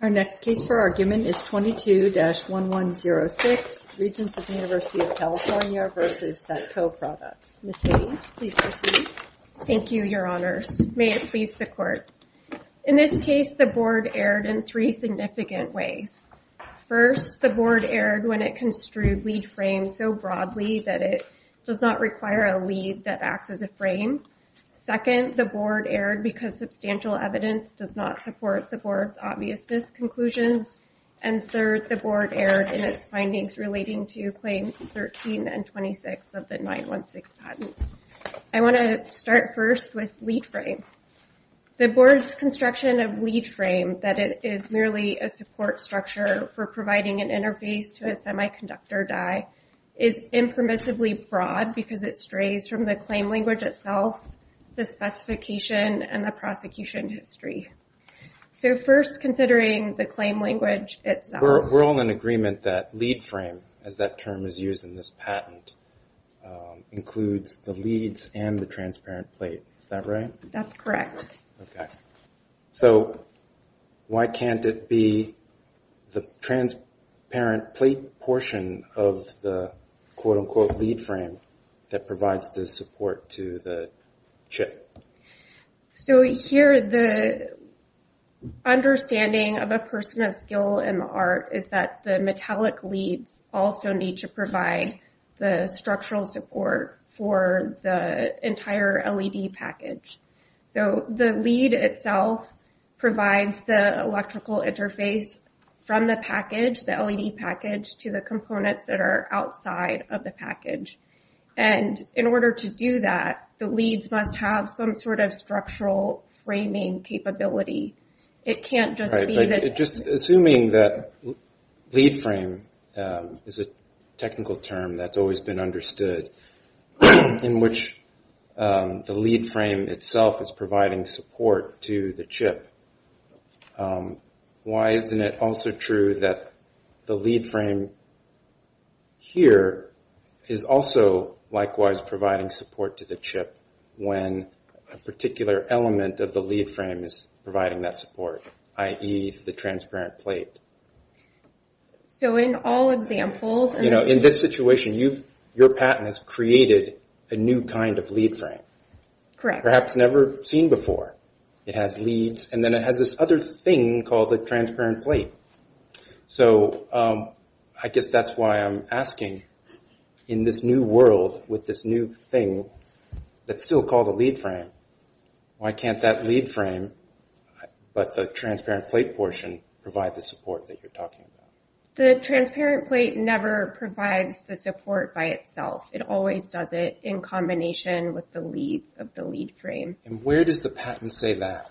Our next case for argument is 22-1106, Regents of the University of California v. Satco Products. Ms. Hayes, please proceed. Thank you, your honors. May it please the court. In this case, the board erred in three significant ways. First, the board erred when it construed lead frames so broadly that it does not require a lead that acts as a frame. Second, the board erred because substantial evidence does not support the board's obviousness conclusions. And third, the board erred in its findings relating to claims 13 and 26 of the 916 patent. I want to start first with lead frame. The board's construction of lead frame, that it is merely a support structure for providing an interface to a semiconductor die, is impermissibly broad because it strays from the claim language itself, the specification, and the prosecution history. So first, considering the claim language itself. We're all in agreement that lead frame, as that term is used in this patent, includes the leads and the transparent plate. Is that right? That's correct. Okay. So why can't it be the transparent plate portion of the quote-unquote lead frame that provides the support to the chip? So here, the understanding of a person of skill in the art is that the metallic leads also need to provide the structural support for the entire LED package. So the lead itself provides the electrical interface from the package, the LED package, to the components that are outside of the package. And in order to do that, the leads must have some sort of structural framing capability. It can't just be that- Just assuming that lead frame is a technical term that's always been understood, in which the lead frame itself is providing support to the chip, why isn't it also true that the lead frame here is also likewise providing support to the chip when a particular element of the lead frame is providing that support, i.e., the transparent plate? So in all examples- You know, in this situation, your patent has created a new kind of lead frame. Correct. Perhaps never seen before. It has leads, and then it has this other thing called the transparent plate. So I guess that's why I'm asking, in this new world, with this new thing, that's still called a lead frame, why can't that lead frame, but the transparent plate portion, provide the support that you're talking about? The transparent plate never provides the support by itself. It always does it in combination with the lead of the lead frame. And where does the patent say that?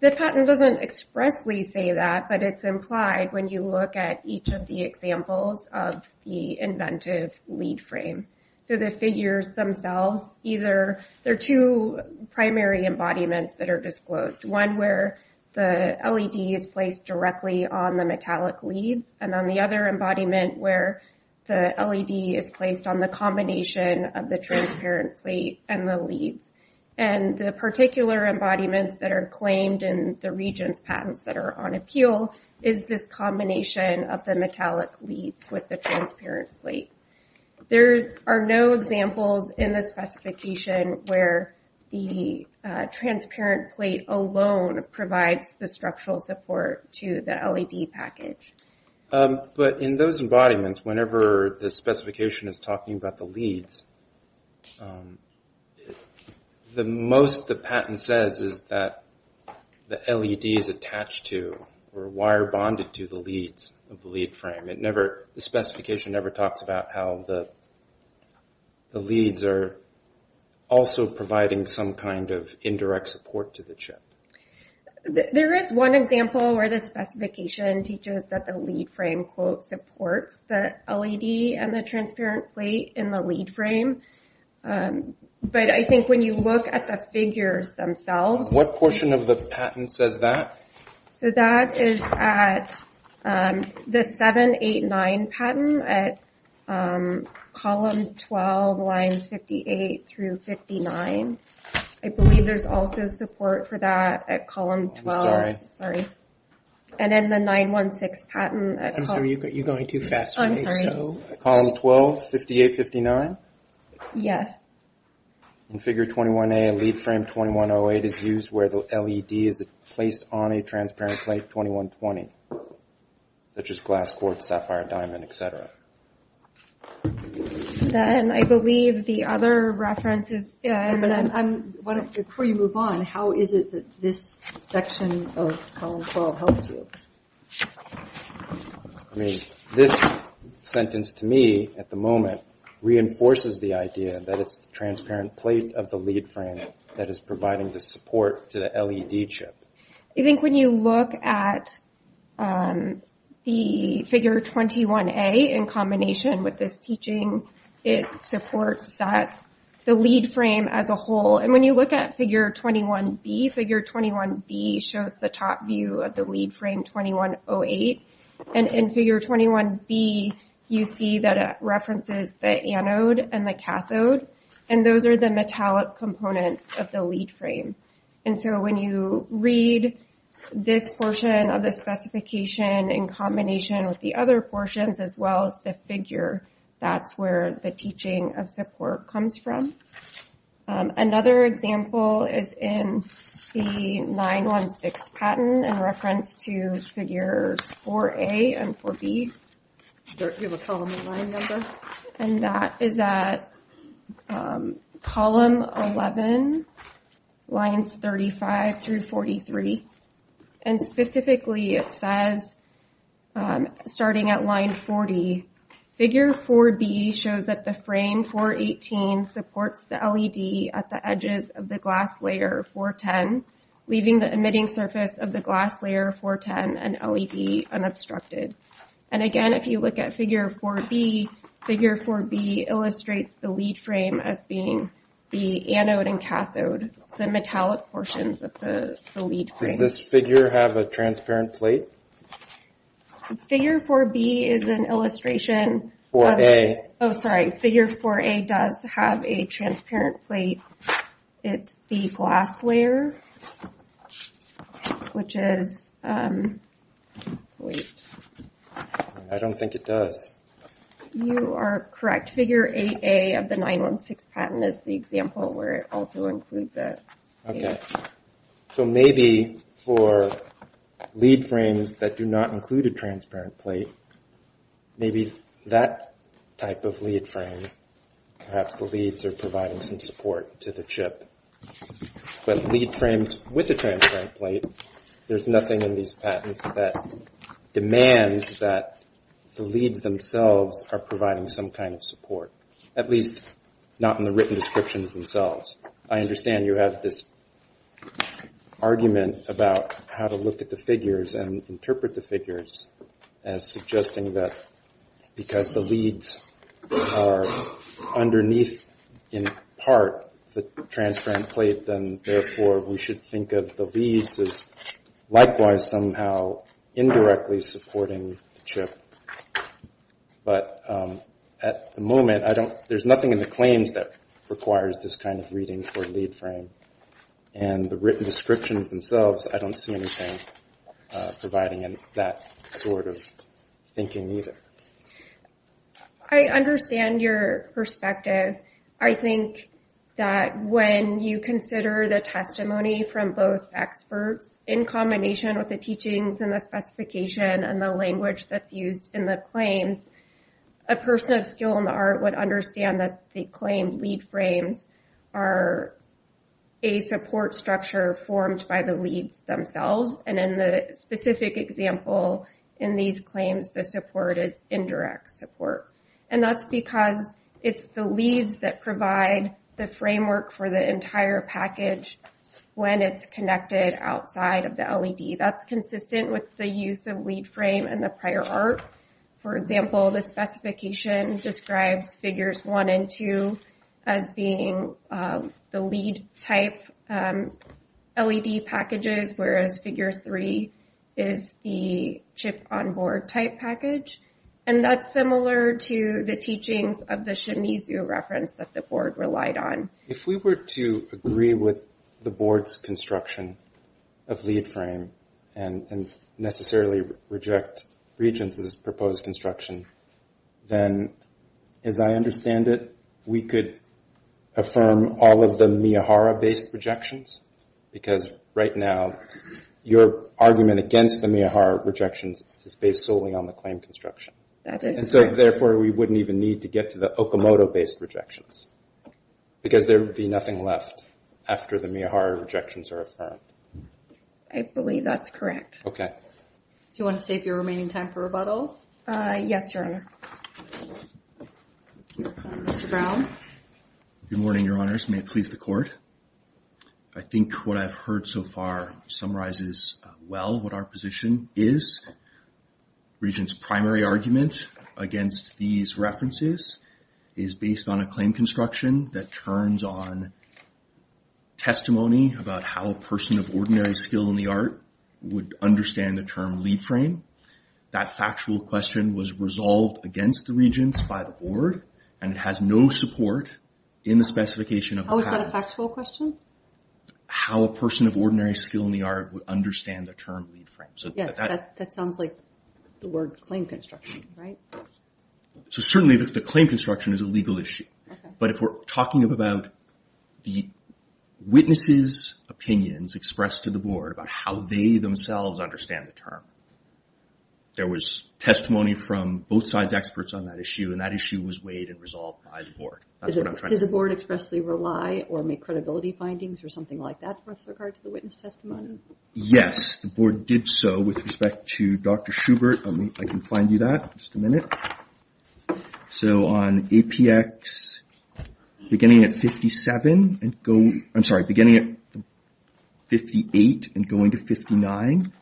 The patent doesn't expressly say that, but it's implied when you look at each of the examples of the inventive lead frame. So the figures themselves, either, there are two primary embodiments that are disclosed. One where the LED is placed directly on the metallic lead, and then the other embodiment where the LED is placed on the combination of the transparent plate and the leads. And the particular embodiments that are claimed in the region's patents that are on appeal is this combination of the metallic leads with the transparent plate. There are no examples in the specification where the transparent plate alone provides the structural support to the LED package. But in those embodiments, whenever the specification is talking about the leads, the most the patent says is that the LED is attached to, or wire bonded to the leads of the lead frame. It never, the specification never talks about how the leads are also providing some kind of indirect support to the chip. There is one example where the specification teaches that the lead frame, quote, supports the LED and the transparent plate in the lead frame. But I think when you look at the figures themselves. What portion of the patent says that? So that is at the 789 patent at column 12, lines 58 through 59. I believe there's also support for that at column 12. I'm sorry. Sorry. And then the 916 patent. I'm sorry, you're going too fast. I'm sorry. Column 12, 58, 59? Yes. In figure 21A, lead frame 2108 is used where the LED is placed on a transparent plate 2120. Such as glass quartz, sapphire, diamond, et cetera. Then I believe the other references. Yeah, and then I'm, before you move on, how is it that this section of column 12 helps you? I mean, this sentence to me at the moment reinforces the idea that it's the transparent plate of the lead frame that is providing the support to the LED chip. You think when you look at the figure 21A in combination with this teaching, it supports that the lead frame as a whole. And when you look at figure 21B, figure 21B shows the top view of the lead frame 2108. And in figure 21B, you see that it references the anode and the cathode. And those are the metallic components of the lead frame. And so when you read this portion of the specification in combination with the other portions, as well as the figure, that's where the teaching of support comes from. Another example is in the 9-1-6 pattern in reference to figures 4A and 4B. You have a column and line number? And that is at column 11, lines 35 through 43. And specifically it says, starting at line 40, figure 4B shows that the frame 418 supports the LED at the edges of the glass layer 410, leaving the emitting surface of the glass layer 410 and LED unobstructed. And again, if you look at figure 4B, figure 4B illustrates the lead frame as being the anode and cathode, the metallic portions of the lead frame. Does this figure have a transparent plate? Figure 4B is an illustration of- 4A. Oh, sorry, figure 4A does have a transparent plate. It's the glass layer, which is, wait. I don't think it does. You are correct. Figure 8A of the 9-1-6 pattern is the example where it also includes that. Okay, so maybe for lead frames that do not include a transparent plate, maybe that type of lead frame, perhaps the leads are providing some support to the chip. But lead frames with a transparent plate, there's nothing in these patents that demands that the leads themselves are providing some kind of support, at least not in the written descriptions themselves. I understand you have this argument about how to look at the figures and interpret the figures as suggesting that because the leads are underneath, in part, the transparent plate, then therefore we should think of the leads as likewise somehow indirectly supporting the chip. But at the moment, there's nothing in the claims that requires this kind of reading for lead frame. And the written descriptions themselves, I don't see anything providing that sort of thinking either. I understand your perspective. I think that when you consider the testimony from both experts in combination with the teachings and the specification and the language that's used in the claims, a person of skill in the art would understand that the claimed lead frames are a support structure formed by the leads themselves. And in the specific example in these claims, the support is indirect support. And that's because it's the leads that provide the framework for the entire package when it's connected outside of the LED. That's consistent with the use of lead frame in the prior art. For example, the specification describes figures one and two as being the lead type LED packages, whereas figure three is the chip on board type package. And that's similar to the teachings of the Shimizu reference that the board relied on. If we were to agree with the board's construction of lead frame and necessarily reject Regence's proposed construction, then as I understand it, we could affirm all of the Miyahara-based rejections because right now your argument against the Miyahara rejections is based solely on the claim construction. And so therefore we wouldn't even need to get to the Okamoto-based rejections because there would be nothing left after the Miyahara rejections are affirmed. I believe that's correct. Okay. Do you want to save your remaining time for rebuttal? Yes, Your Honor. Mr. Brown. Good morning, Your Honors. May it please the court. I think what I've heard so far summarizes well what our position is. Regence's primary argument against these references is based on a claim construction that turns on testimony about how a person of ordinary skill in the art would understand the term lead frame. That factual question was resolved against the Regence by the board and it has no support in the specification of the patent. How is that a factual question? How a person of ordinary skill in the art would understand the term lead frame. Yes, that sounds like the word claim construction, right? So certainly the claim construction is a legal issue. But if we're talking about the witness's opinions expressed to the board about how they themselves understand the term, there was testimony from both sides experts on that issue and that issue was weighed and resolved by the board. Does the board expressly rely or make credibility findings or something like that with regard to the witness testimony? Yes, the board did so with respect to Dr. Schubert. I can find you that, just a minute. So on APX beginning at 57, I'm sorry, beginning at 58 and going to 59,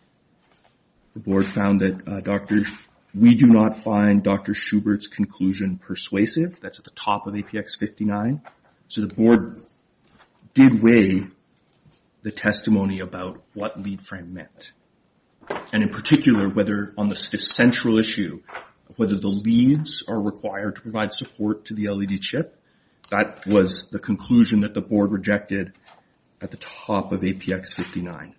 the board found that we do not find Dr. Schubert's conclusion persuasive. That's at the top of APX 59. So the board did weigh the testimony about what lead frame meant. And in particular whether on the central issue of whether the leads are required to provide support to the LED chip, that was the conclusion that the board rejected at the top of APX 59.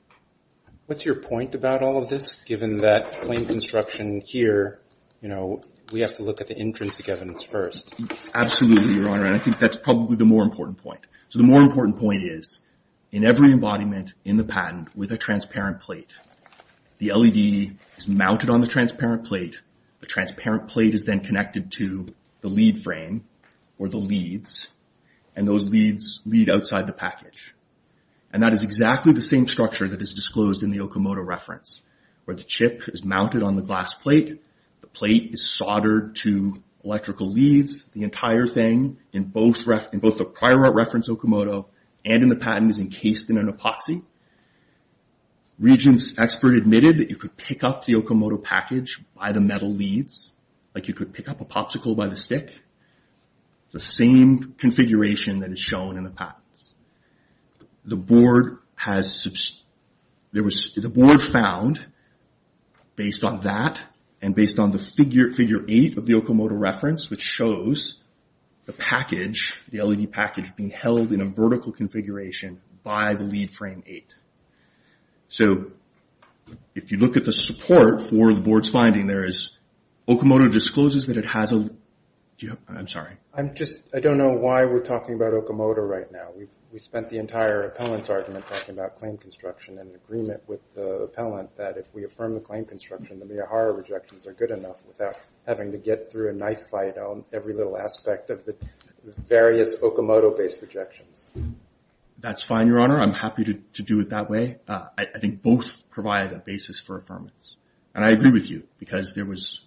What's your point about all of this given that claim construction here, you know, we have to look at the intrinsic evidence first. Absolutely, Your Honor, and I think that's probably the more important point. So the more important point is in every embodiment in the patent with a transparent plate, the LED is mounted on the transparent plate. The transparent plate is then connected to the lead frame or the leads, and those leads lead outside the package. And that is exactly the same structure that is disclosed in the Okamoto reference where the chip is mounted on the glass plate, the plate is soldered to electrical leads, the entire thing in both the prior reference Okamoto and in the patent is encased in an epoxy. Regents expert admitted that you could pick up the Okamoto package by the metal leads, like you could pick up a popsicle by the stick. The same configuration that is shown in the patents. The board found, based on that, and based on the figure eight of the Okamoto reference which shows the package, the LED package being held in a vertical configuration by the lead frame eight. So if you look at the support for the board's finding, there is Okamoto discloses that it has a, do you have, I'm sorry. I'm just, I don't know why we're talking about Okamoto right now. We spent the entire appellant's argument talking about claim construction and agreement with the appellant that if we affirm the claim construction, the Miyahara rejections are good enough without having to get through a knife fight on every little aspect of the various Okamoto-based rejections. That's fine, Your Honor. I'm happy to do it that way. I think both provide a basis for affirmance. And I agree with you because there was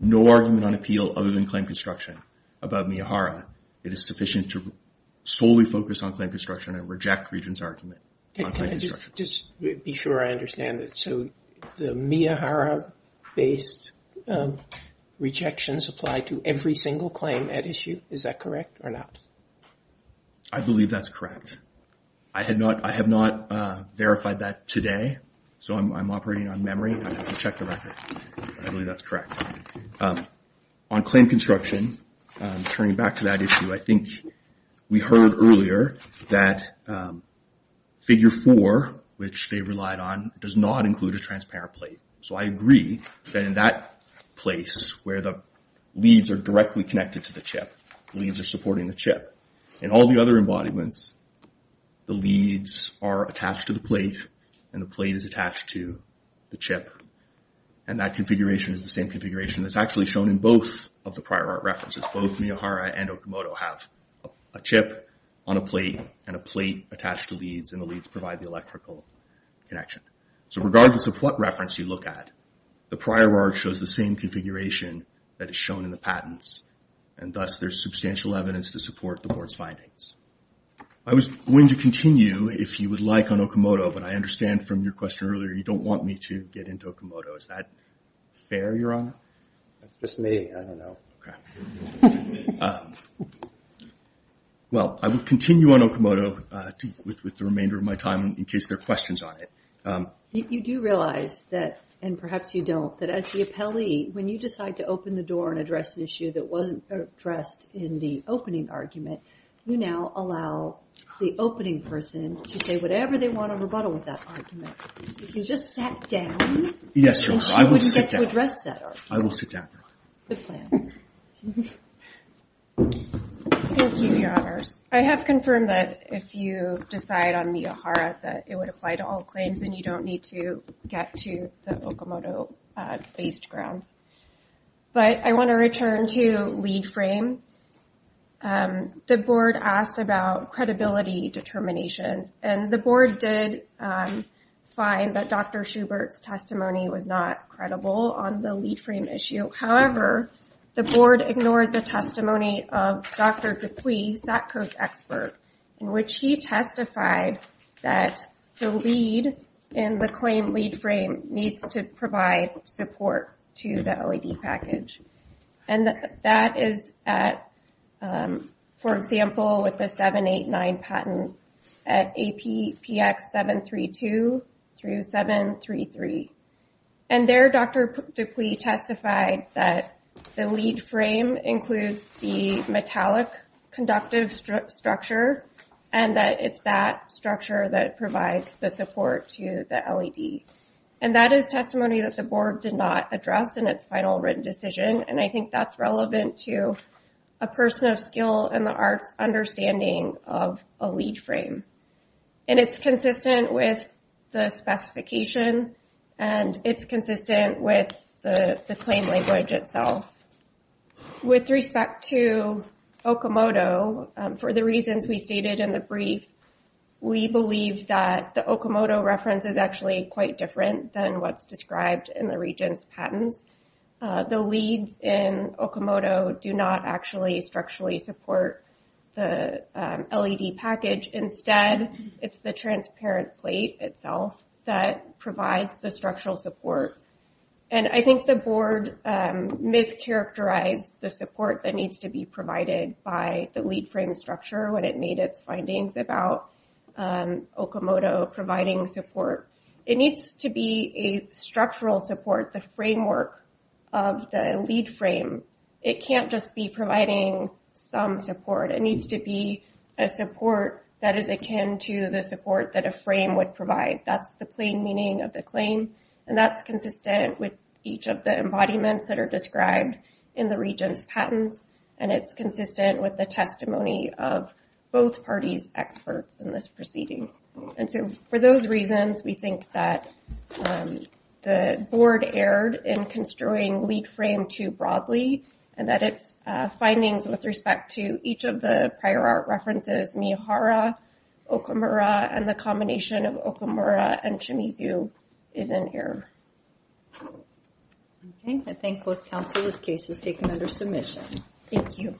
no argument on appeal other than claim construction about Miyahara. It is sufficient to solely focus on claim construction and reject Regent's argument on claim construction. Just to be sure I understand it. So the Miyahara-based rejections apply to every single claim at issue. Is that correct or not? I believe that's correct. I have not verified that today. So I'm operating on memory. I have to check the record. I believe that's correct. On claim construction, turning back to that issue, I think we heard earlier that figure four, which they relied on, does not include a transparent plate. So I agree that in that place where the leads are directly connected to the chip, leads are supporting the chip. In all the other embodiments, the leads are attached to the plate and the plate is attached to the chip. And that configuration is the same configuration that's actually shown in both of the prior art references. Both Miyahara and Okamoto have a chip on a plate and a plate attached to leads and the leads provide the electrical connection. So regardless of what reference you look at, the prior art shows the same configuration that is shown in the patents. And thus, there's substantial evidence to support the board's findings. I was going to continue, if you would like, on Okamoto, but I understand from your question earlier, you don't want me to get into Okamoto. Is that fair, Your Honor? That's just me. I don't know. Okay. Well, I will continue on Okamoto with the remainder of my time in case there are questions on it. You do realize that, and perhaps you don't, that as the appellee, when you decide to open the door and address an issue that wasn't addressed in the opening argument, you now allow the opening person to say whatever they want on rebuttal with that argument. If you just sat down, Yes, Your Honor, I will sit down. Then she wouldn't get to address that argument. I will sit down. Good plan. Thank you, Your Honors. I have confirmed that if you decide on Miyahara that it would apply to all claims and you don't need to get to the Okamoto-based grounds. But I want to return to lead frame. The board asked about credibility determination, and the board did find that Dr. Schubert's testimony was not credible on the lead frame issue. However, the board ignored the testimony of Dr. Dupuis, SACCO's expert, in which he testified that the lead in the claim lead frame needs to provide support to the LED package. And that is at, for example, with the 789 patent at APX 732 through 733. And there, Dr. Dupuis testified that the lead frame includes the metallic conductive structure, and that it's that structure that provides the support to the LED. And that is testimony that the board did not address in its final written decision, and I think that's relevant to a person of skill in the arts understanding of a lead frame. And it's consistent with the specification, and it's consistent with the claim language itself. With respect to Okamoto, for the reasons we stated in the brief, we believe that the Okamoto reference is actually quite different than what's described in the region's patents. The leads in Okamoto do not actually structurally support the LED package. Instead, it's the transparent plate itself that provides the structural support. And I think the board mischaracterized the support that needs to be provided by the lead frame structure when it made its findings about Okamoto providing support. It needs to be a structural support, the framework of the lead frame. It can't just be providing some support. It needs to be a support that is akin to the support that a frame would provide. That's the plain meaning of the claim, and that's consistent with each of the embodiments that are described in the region's patents, and it's consistent with the testimony of both parties' experts in this proceeding. And so, for those reasons, we think that the board erred in construing lead frame too broadly, and that its findings with respect to each of the prior art references, Mihara, Okamura, and the combination of Okamura and Shimizu, is in error. Okay, I thank both counsel. This case is taken under submission. Thank you.